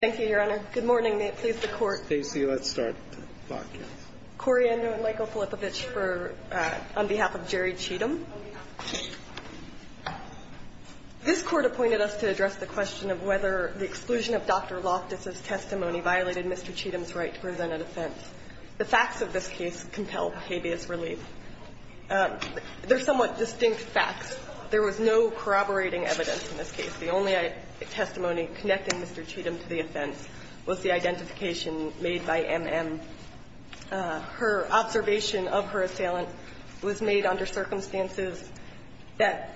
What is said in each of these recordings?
Thank you, Your Honor. Good morning. May it please the Court. Stacy, let's start the broadcast. Corey Andrew and Michael Filipovich on behalf of Jerry Cheatam. This Court appointed us to address the question of whether the exclusion of Dr. Loftus' testimony violated Mr. Cheatam's right to present an offense. The facts of this case compel habeas relief. They're somewhat distinct facts. There was no corroborating evidence in this case. The only testimony connecting Mr. Cheatam to the offense was the identification made by M.M. Her observation of her assailant was made under circumstances that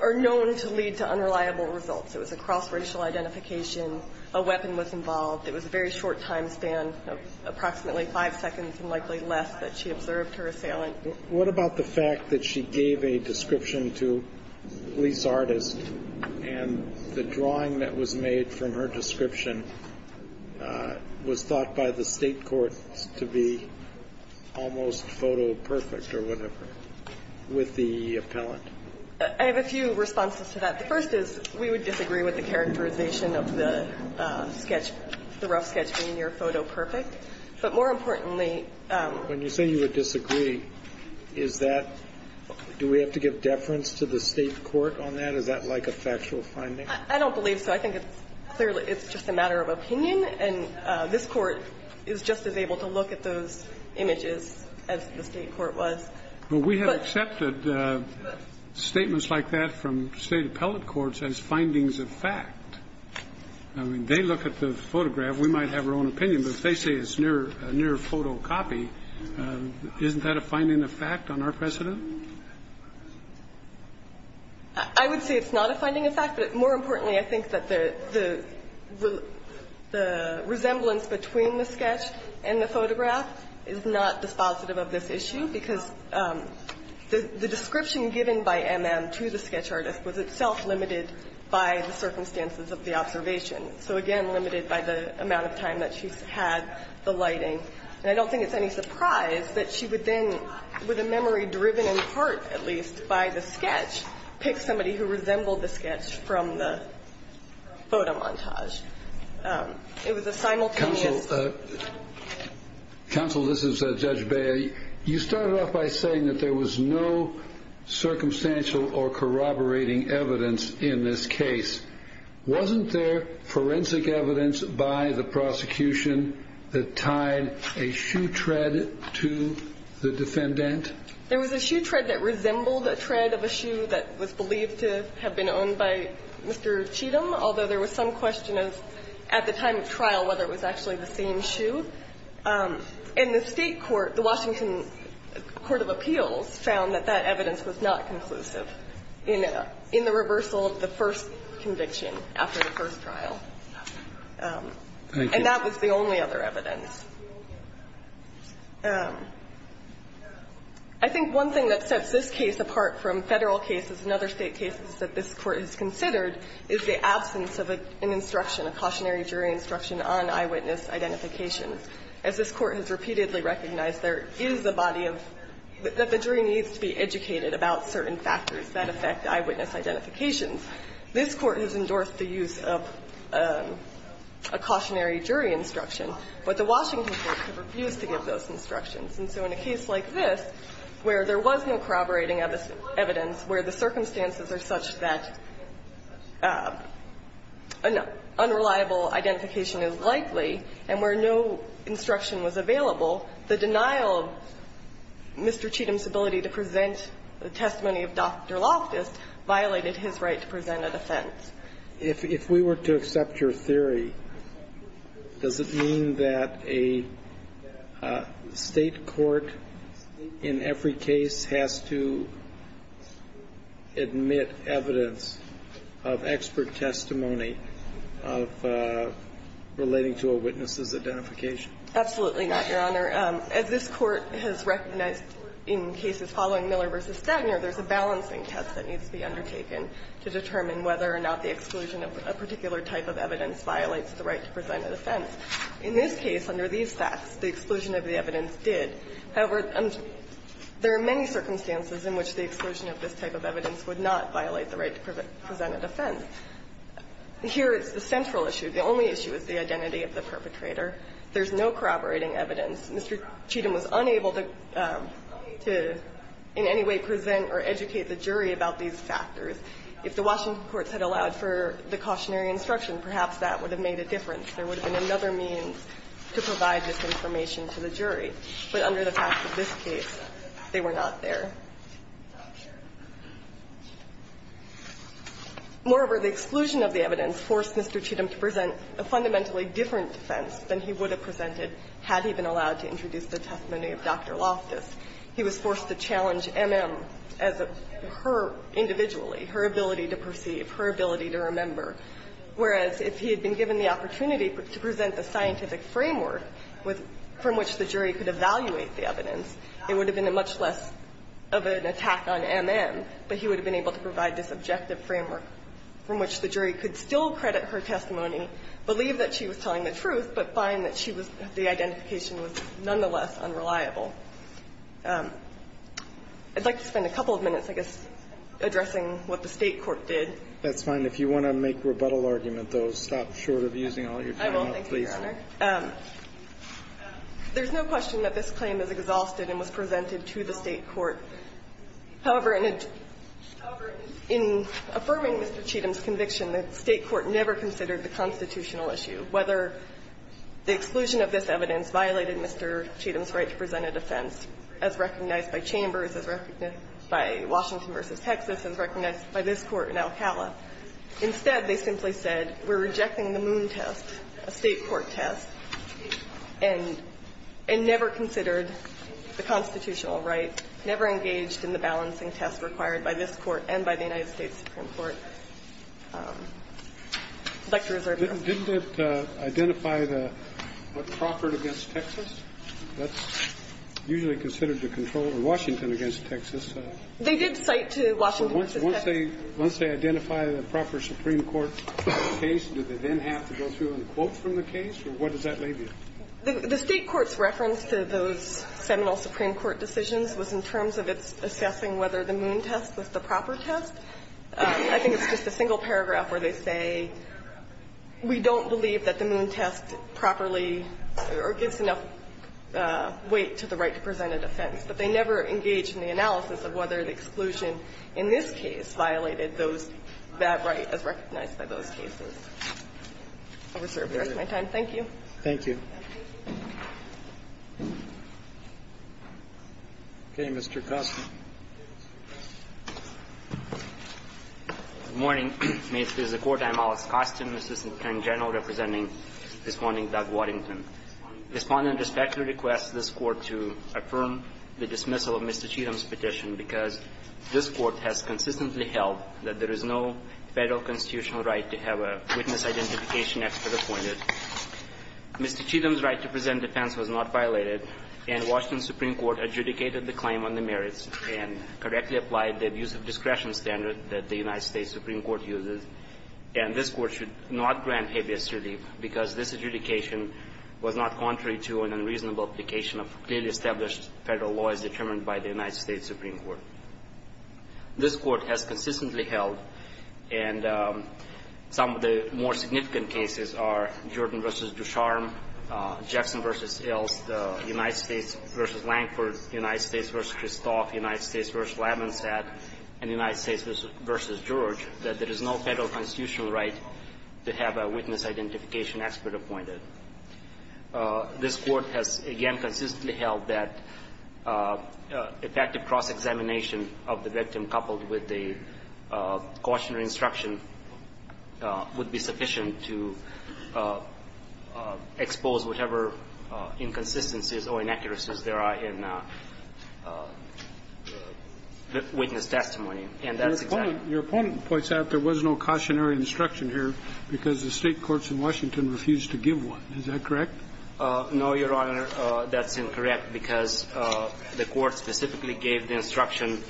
are known to lead to unreliable results. It was a cross-racial identification. A weapon was involved. It was a very short time span of approximately five seconds and likely less that she observed her assailant. What about the fact that she gave a description to a police artist and the drawing that was made from her description was thought by the State courts to be almost photoperfect or whatever with the appellant? I have a few responses to that. The first is we would disagree with the characterization of the sketch, the rough sketch being near photoperfect. But more importantly — When you say you would disagree, is that — do we have to give deference to the State court on that? Is that like a factual finding? I don't believe so. I think it's clearly — it's just a matter of opinion. And this Court is just as able to look at those images as the State court was. But — Well, we have accepted statements like that from State appellate courts as findings of fact. I mean, they look at the photograph. We might have our own opinion. But if they say it's near photocopy, isn't that a finding of fact on our precedent? I would say it's not a finding of fact. But more importantly, I think that the resemblance between the sketch and the photograph is not dispositive of this issue because the description given by M.M. to the sketch artist was itself limited by the circumstances of the observation. So, again, limited by the amount of time that she's had the lighting. And I don't think it's any surprise that she would then, with a memory driven in part, at least, by the sketch, pick somebody who resembled the sketch from the photomontage. It was a simultaneous — Counsel, this is Judge Bea. You started off by saying that there was no circumstantial or corroborating evidence in this case. Wasn't there forensic evidence by the prosecution that tied a shoe tread to the defendant? There was a shoe tread that resembled a tread of a shoe that was believed to have been owned by Mr. Cheatham, although there was some question of, at the time of trial, whether it was actually the same shoe. And the State court, the Washington Court of Appeals, found that that evidence was not conclusive in the reversal of the first conviction after the first trial. And that was the only other evidence. I think one thing that sets this case apart from Federal cases and other State cases that this Court has considered is the absence of an instruction, a cautionary jury instruction on eyewitness identification. As this Court has repeatedly recognized, there is a body of — that the jury needs to be educated about certain factors that affect eyewitness identifications. This Court has endorsed the use of a cautionary jury instruction. But the Washington courts have refused to give those instructions. And so in a case like this, where there was no corroborating evidence, where the circumstances are such that an unreliable identification is likely, and where no instruction was available, the denial of Mr. Cheatham's ability to present the testimony of Dr. Loftus violated his right to present an offense. If we were to accept your theory, does it mean that a State court in every case has to admit evidence of expert testimony of relating to a witness's identification? Absolutely not, Your Honor. As this Court has recognized in cases following Miller v. Stagner, there is a balancing test that needs to be undertaken to determine whether or not the exclusion of a particular type of evidence violates the right to present an offense. In this case, under these facts, the exclusion of the evidence did. However, there are many circumstances in which the exclusion of this type of evidence would not violate the right to present an offense. Here is the central issue. The only issue is the identity of the perpetrator. There's no corroborating evidence. Mr. Cheatham was unable to in any way present or educate the jury about these factors. If the Washington courts had allowed for the cautionary instruction, perhaps that would have made a difference. There would have been another means to provide this information to the jury. But under the facts of this case, they were not there. Moreover, the exclusion of the evidence forced Mr. Cheatham to present a fundamentally different defense than he would have presented had he been allowed to introduce the testimony of Dr. Loftus. He was forced to challenge M.M. as her individually, her ability to perceive, her ability to remember, whereas if he had been given the opportunity to present a scientific framework from which the jury could evaluate the evidence, it would have been much less of an attack on M.M., but he would have been able to provide this objective framework from which the jury could still credit her testimony, believe that she was telling the truth, but find that she was the identification was nonetheless unreliable. I'd like to spend a couple of minutes, I guess, addressing what the State court did. That's fine. If you want to make rebuttal argument, though, stop short of using all your time. I will. Thank you, Your Honor. There's no question that this claim is exhausted and was presented to the State court. However, in affirming Mr. Cheatham's conviction that State court never considered the constitutional issue, whether the exclusion of this evidence violated Mr. Cheatham's right to present a defense as recognized by Chambers, as recognized by Washington v. Texas, as recognized by this Court in Alcala, instead they simply said we're not engaged in the balancing test required by this Court and by the United States Supreme Court. I'd like to reserve your comments. Didn't it identify the Crawford v. Texas? That's usually considered to control Washington v. Texas. They did cite to Washington v. Texas. Once they identify the Crawford Supreme Court case, did they then have to go through in quotes from the case, or what does that leave you? The State court's reference to those seminal Supreme Court decisions was in terms of its assessing whether the Moon test was the proper test. I think it's just a single paragraph where they say, we don't believe that the Moon test properly or gives enough weight to the right to present a defense. But they never engaged in the analysis of whether the exclusion in this case violated those that right as recognized by those cases. I'll reserve the rest of my time. Thank you. Thank you. Okay. Mr. Kostin. Good morning. May it please the Court. I'm Alex Kostin, Assistant Attorney General, representing this morning Doug Waddington. Respondent respectfully requests this Court to affirm the dismissal of Mr. Cheatham's petition, because this Court has consistently held that there is no Federal constitutional right to have a witness identification expert appointed. Mr. Cheatham's right to present defense was not violated, and Washington's Supreme Court adjudicated the claim on the merits and correctly applied the use of discretion standard that the United States Supreme Court uses. And this Court should not grant habeas relief, because this adjudication was not contrary to an unreasonable application of clearly established Federal law as determined by the United States Supreme Court. This Court has consistently held, and some of the more significant cases are the Jordan v. Ducharme, Jackson v. Ilst, United States v. Lankford, United States v. Kristoff, United States v. Labinsat, and United States v. George, that there is no Federal constitutional right to have a witness identification expert appointed. This Court has, again, consistently held that effective cross-examination of the victim coupled with the cautionary instruction would be sufficient to expose whatever inconsistencies or inaccuracies there are in witness testimony. And that's exactly the case. Your opponent points out there was no cautionary instruction here because the State courts in Washington refused to give one. Is that correct? No, Your Honor. That's incorrect because the Court specifically gave the instruction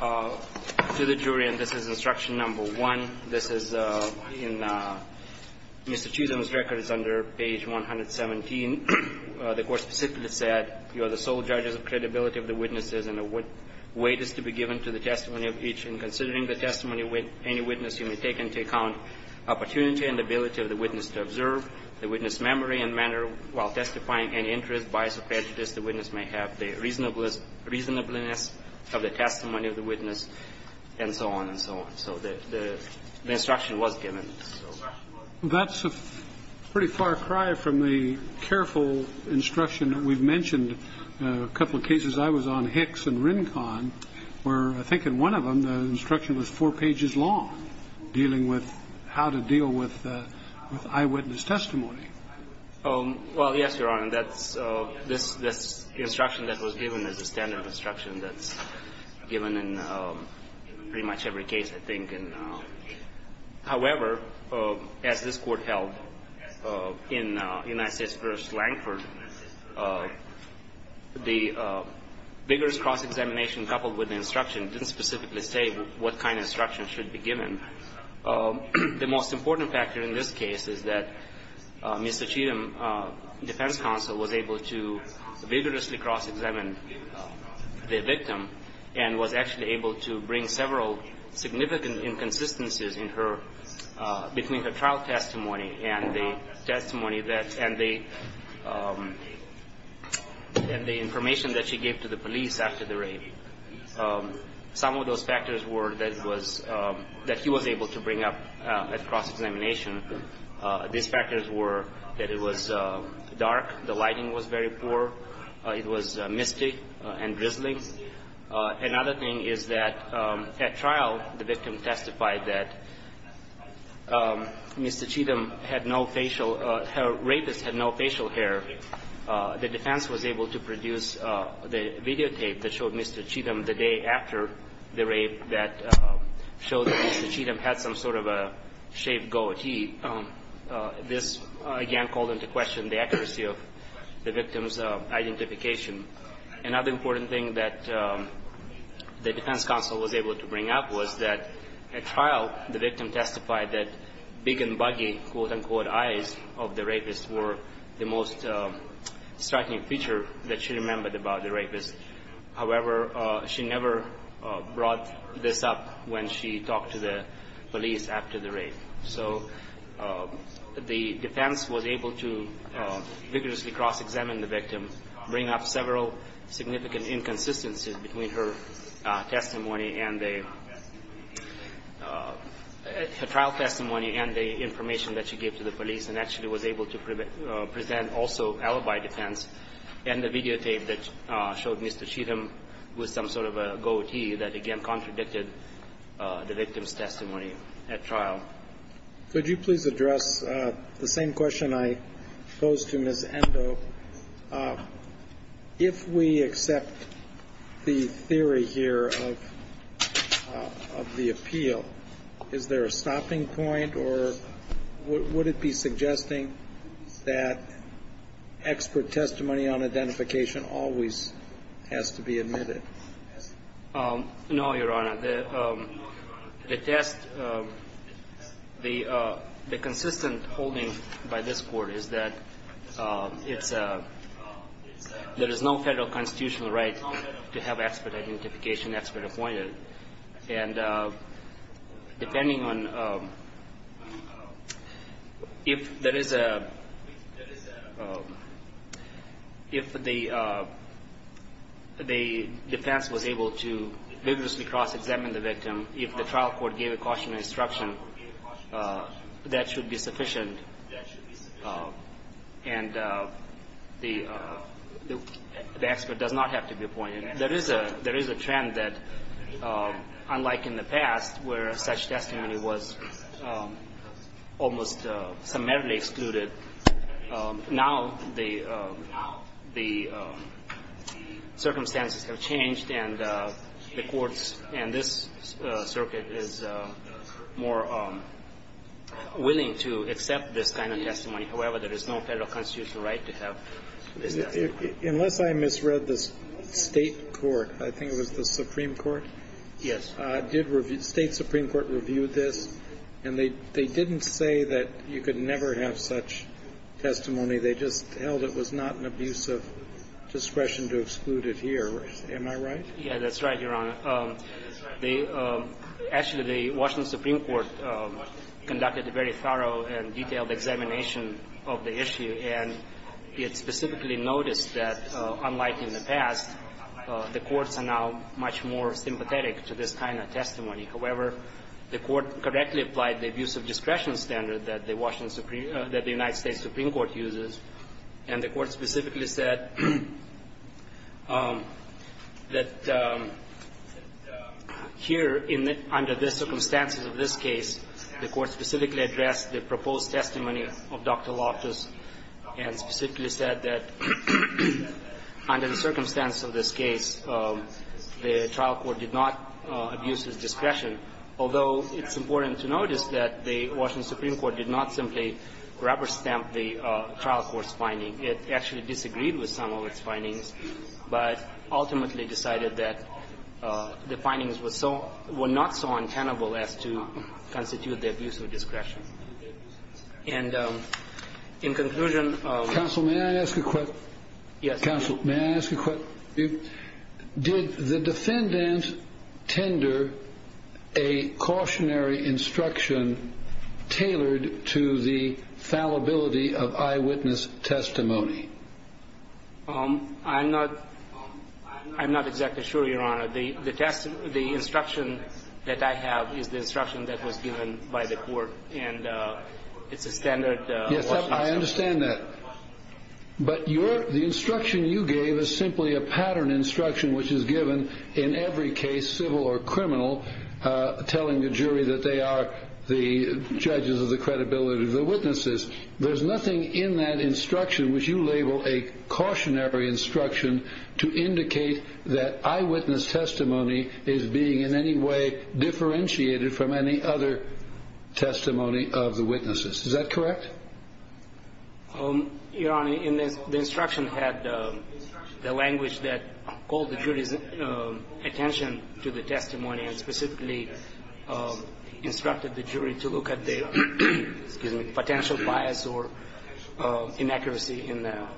to the jury, and this is instruction number one. This is in Mr. Chisholm's records under page 117. The Court specifically said, you are the sole judges of credibility of the witnesses and the weight is to be given to the testimony of each. And considering the testimony of any witness, you may take into account opportunity and ability of the witness to observe the witness' memory and manner while testifying any interest, bias or prejudice the witness may have, the reasonableness of the testimony of the witness, and so on and so on. So the instruction was given. That's a pretty far cry from the careful instruction that we've mentioned. A couple of cases I was on, Hicks and Rincon, where I think in one of them the instruction was four pages long dealing with how to deal with eyewitness testimony. Well, yes, Your Honor. That's this instruction that was given is the standard instruction that's given in pretty much every case, I think. However, as this Court held in United States v. Langford, the vigorous cross-examination coupled with the instruction didn't specifically say what kind of instruction should be given. The most important factor in this case is that Mr. Cheatham, defense counsel, was able to vigorously cross-examine the victim and was actually able to bring several significant inconsistencies in her, between her trial testimony and the testimony that, and the information that she gave to the police after the rape. Some of those factors were that it was, that he was able to bring up at cross-examination. These factors were that it was dark, the lighting was very poor, it was misty and drizzling. Another thing is that at trial, the victim testified that Mr. Cheatham had no facial, her rapist had no facial hair. The defense was able to produce the videotape that showed Mr. Cheatham the day after the rape that showed that Mr. Cheatham had some sort of a shaved goatee. This, again, called into question the accuracy of the victim's identification. Another important thing that the defense counsel was able to bring up was that at trial, the victim testified that big and buggy, quote-unquote, eyes of the rapist were the most striking feature that she remembered about the rapist. However, she never brought this up when she talked to the police after the rape. So the defense was able to vigorously cross-examine the victim, bring up several significant inconsistencies between her testimony and the trial testimony and the information that she gave to the police, and actually was able to present also alibi defense and the videotape that showed Mr. Cheatham with some sort of a goatee that, again, contradicted the victim's testimony at trial. Could you please address the same question I posed to Ms. Endo? If we accept the theory here of the appeal, is there a stopping point or would it be suggesting that expert testimony on identification always has to be admitted? No, Your Honor. The test, the consistent holding by this Court is that there is no federal constitutional right to have expert identification, expert appointment. And depending on if there is a, if the defense was able to vigorously cross-examine the victim, if the trial court gave a cautionary instruction, that should be sufficient and the expert does not have to be appointed. There is a, there is a trend that, unlike in the past, where such testimony was almost summarily excluded, now the, the circumstances have changed and the courts and this circuit is more willing to accept this kind of testimony. However, there is no federal constitutional right to have this testimony. Unless I misread this, State court, I think it was the Supreme Court? Yes. State Supreme Court reviewed this and they didn't say that you could never have such testimony. They just held it was not an abuse of discretion to exclude it here. Am I right? Yes, that's right, Your Honor. Actually, the Washington Supreme Court conducted a very thorough and detailed examination of the issue. And it specifically noticed that, unlike in the past, the courts are now much more sympathetic to this kind of testimony. However, the Court correctly applied the abuse of discretion standard that the Washington Supreme, that the United States Supreme Court uses. And the Court specifically said that here, under the circumstances of this case, the Court specifically addressed the proposed testimony of Dr. Loftus and specifically said that under the circumstance of this case, the trial court did not abuse his discretion, although it's important to notice that the Washington Supreme Court did not simply rubber-stamp the trial court's finding. It actually disagreed with some of its findings, but ultimately decided that the findings were so – were not so untenable as to constitute the abuse of discretion. And in conclusion of – Counsel, may I ask a question? Yes. Counsel, may I ask a question? Did the defendant tender a cautionary instruction tailored to the fallibility of eyewitness testimony? I'm not – I'm not exactly sure, Your Honor. The test – the instruction that I have is the instruction that was given by the Court, and it's a standard – Yes, I understand that. But your – the instruction you gave is simply a pattern instruction which is given in every case, civil or criminal, telling the jury that they are the judges of the credibility of the witnesses. There's nothing in that instruction which you label a cautionary instruction to indicate that eyewitness testimony is being in any way differentiated from any other testimony of the witnesses. Is that correct? Your Honor, the instruction had the language that called the jury's attention to the testimony and specifically instructed the jury to look at the potential bias or inaccuracy in the –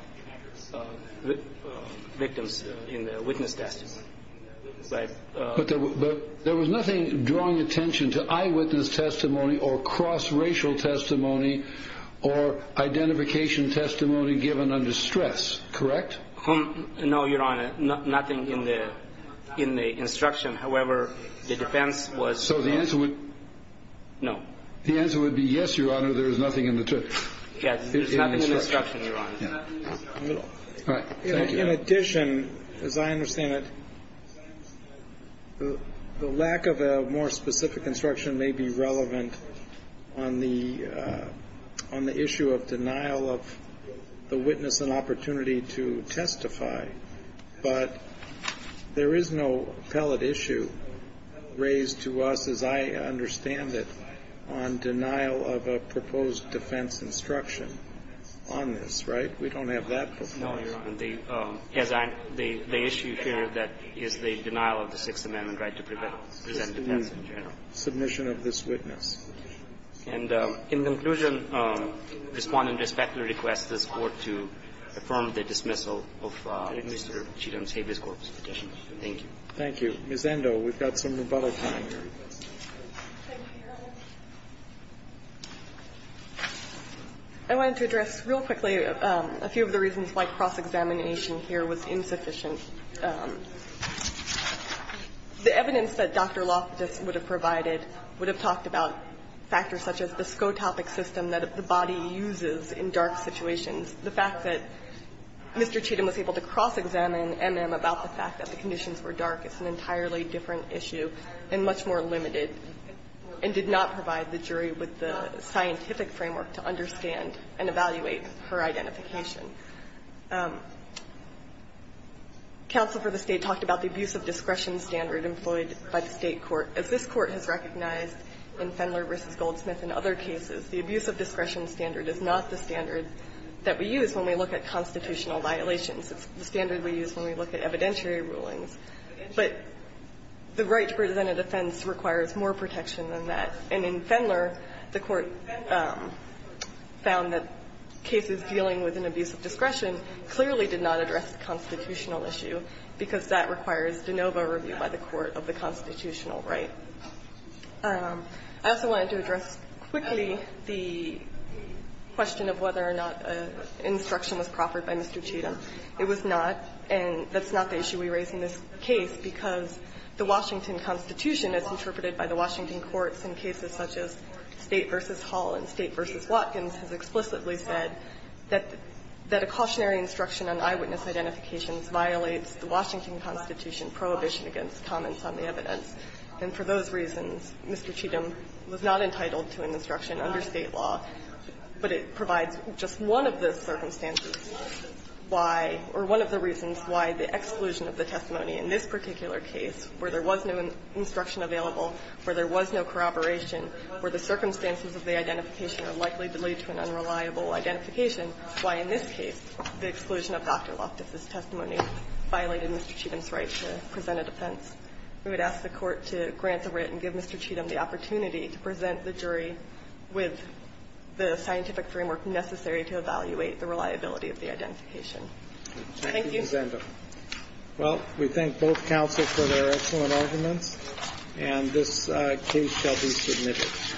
victims in the witness testimony. But there was nothing drawing attention to eyewitness testimony or cross-racial testimony or identification testimony given under stress, correct? No, Your Honor, nothing in the – in the instruction. However, the defense was – So the answer would – No. The answer would be yes, Your Honor, there is nothing in the – Yes, there's nothing in the instruction, Your Honor. All right. Thank you. In addition, as I understand it, the lack of a more specific instruction may be relevant on the – on the issue of denial of the witness an opportunity to testify, but there is no appellate issue raised to us, as I understand it, on denial of a proposed defense instruction on this, right? We don't have that before you. No, Your Honor. The issue here that is the denial of the Sixth Amendment right to present defense in general. Submission of this witness. And in conclusion, Respondent respectfully requests this Court to affirm the dismissal of Mr. Cheatham's habeas corpus petition. Thank you. Thank you. Ms. Endo, we've got some rebuttal time. Thank you, Your Honor. I wanted to address real quickly a few of the reasons why cross-examination here was insufficient. The evidence that Dr. Loftus would have provided would have talked about factors such as the scotopic system that the body uses in dark situations. The fact that Mr. Cheatham was able to cross-examine MM about the fact that the conditions were dark is an entirely different issue and much more limited, and did not provide the jury with the scientific framework to understand and evaluate her identification. Counsel for the State talked about the abuse of discretion standard employed by the State court. As this Court has recognized in Fendler v. Goldsmith and other cases, the abuse of discretion standard is not the standard that we use when we look at constitutional violations. It's the standard we use when we look at evidentiary rulings. But the right to present a defense requires more protection than that. And in Fendler, the Court found that cases dealing with an abuse of discretion clearly did not address the constitutional issue, because that requires de novo review by the court of the constitutional right. I also wanted to address quickly the question of whether or not an instruction was proffered by Mr. Cheatham. It was not, and that's not the issue we raise in this case, because the Washington Constitution, as interpreted by the Washington courts in cases such as State v. Hall and State v. Watkins, has explicitly said that a cautionary instruction on eyewitness identifications violates the Washington Constitution prohibition against comments on the evidence. And for those reasons, Mr. Cheatham was not entitled to an instruction under State law, but it provides just one of the circumstances why, or one of the reasons why the exclusion of the testimony in this particular case, where there was no instruction available, where there was no corroboration, where the circumstances of the identification are likely to lead to an unreliable identification, why in this case the exclusion of Dr. Luft, if this testimony violated Mr. Cheatham's right to present a defense. We would ask the Court to grant the writ and give Mr. Cheatham the opportunity to present the jury with the scientific framework necessary to evaluate the reliability of the identification. Thank you. Thank you, Ms. Endo. Well, we thank both counsel for their excellent arguments, and this case shall be submitted.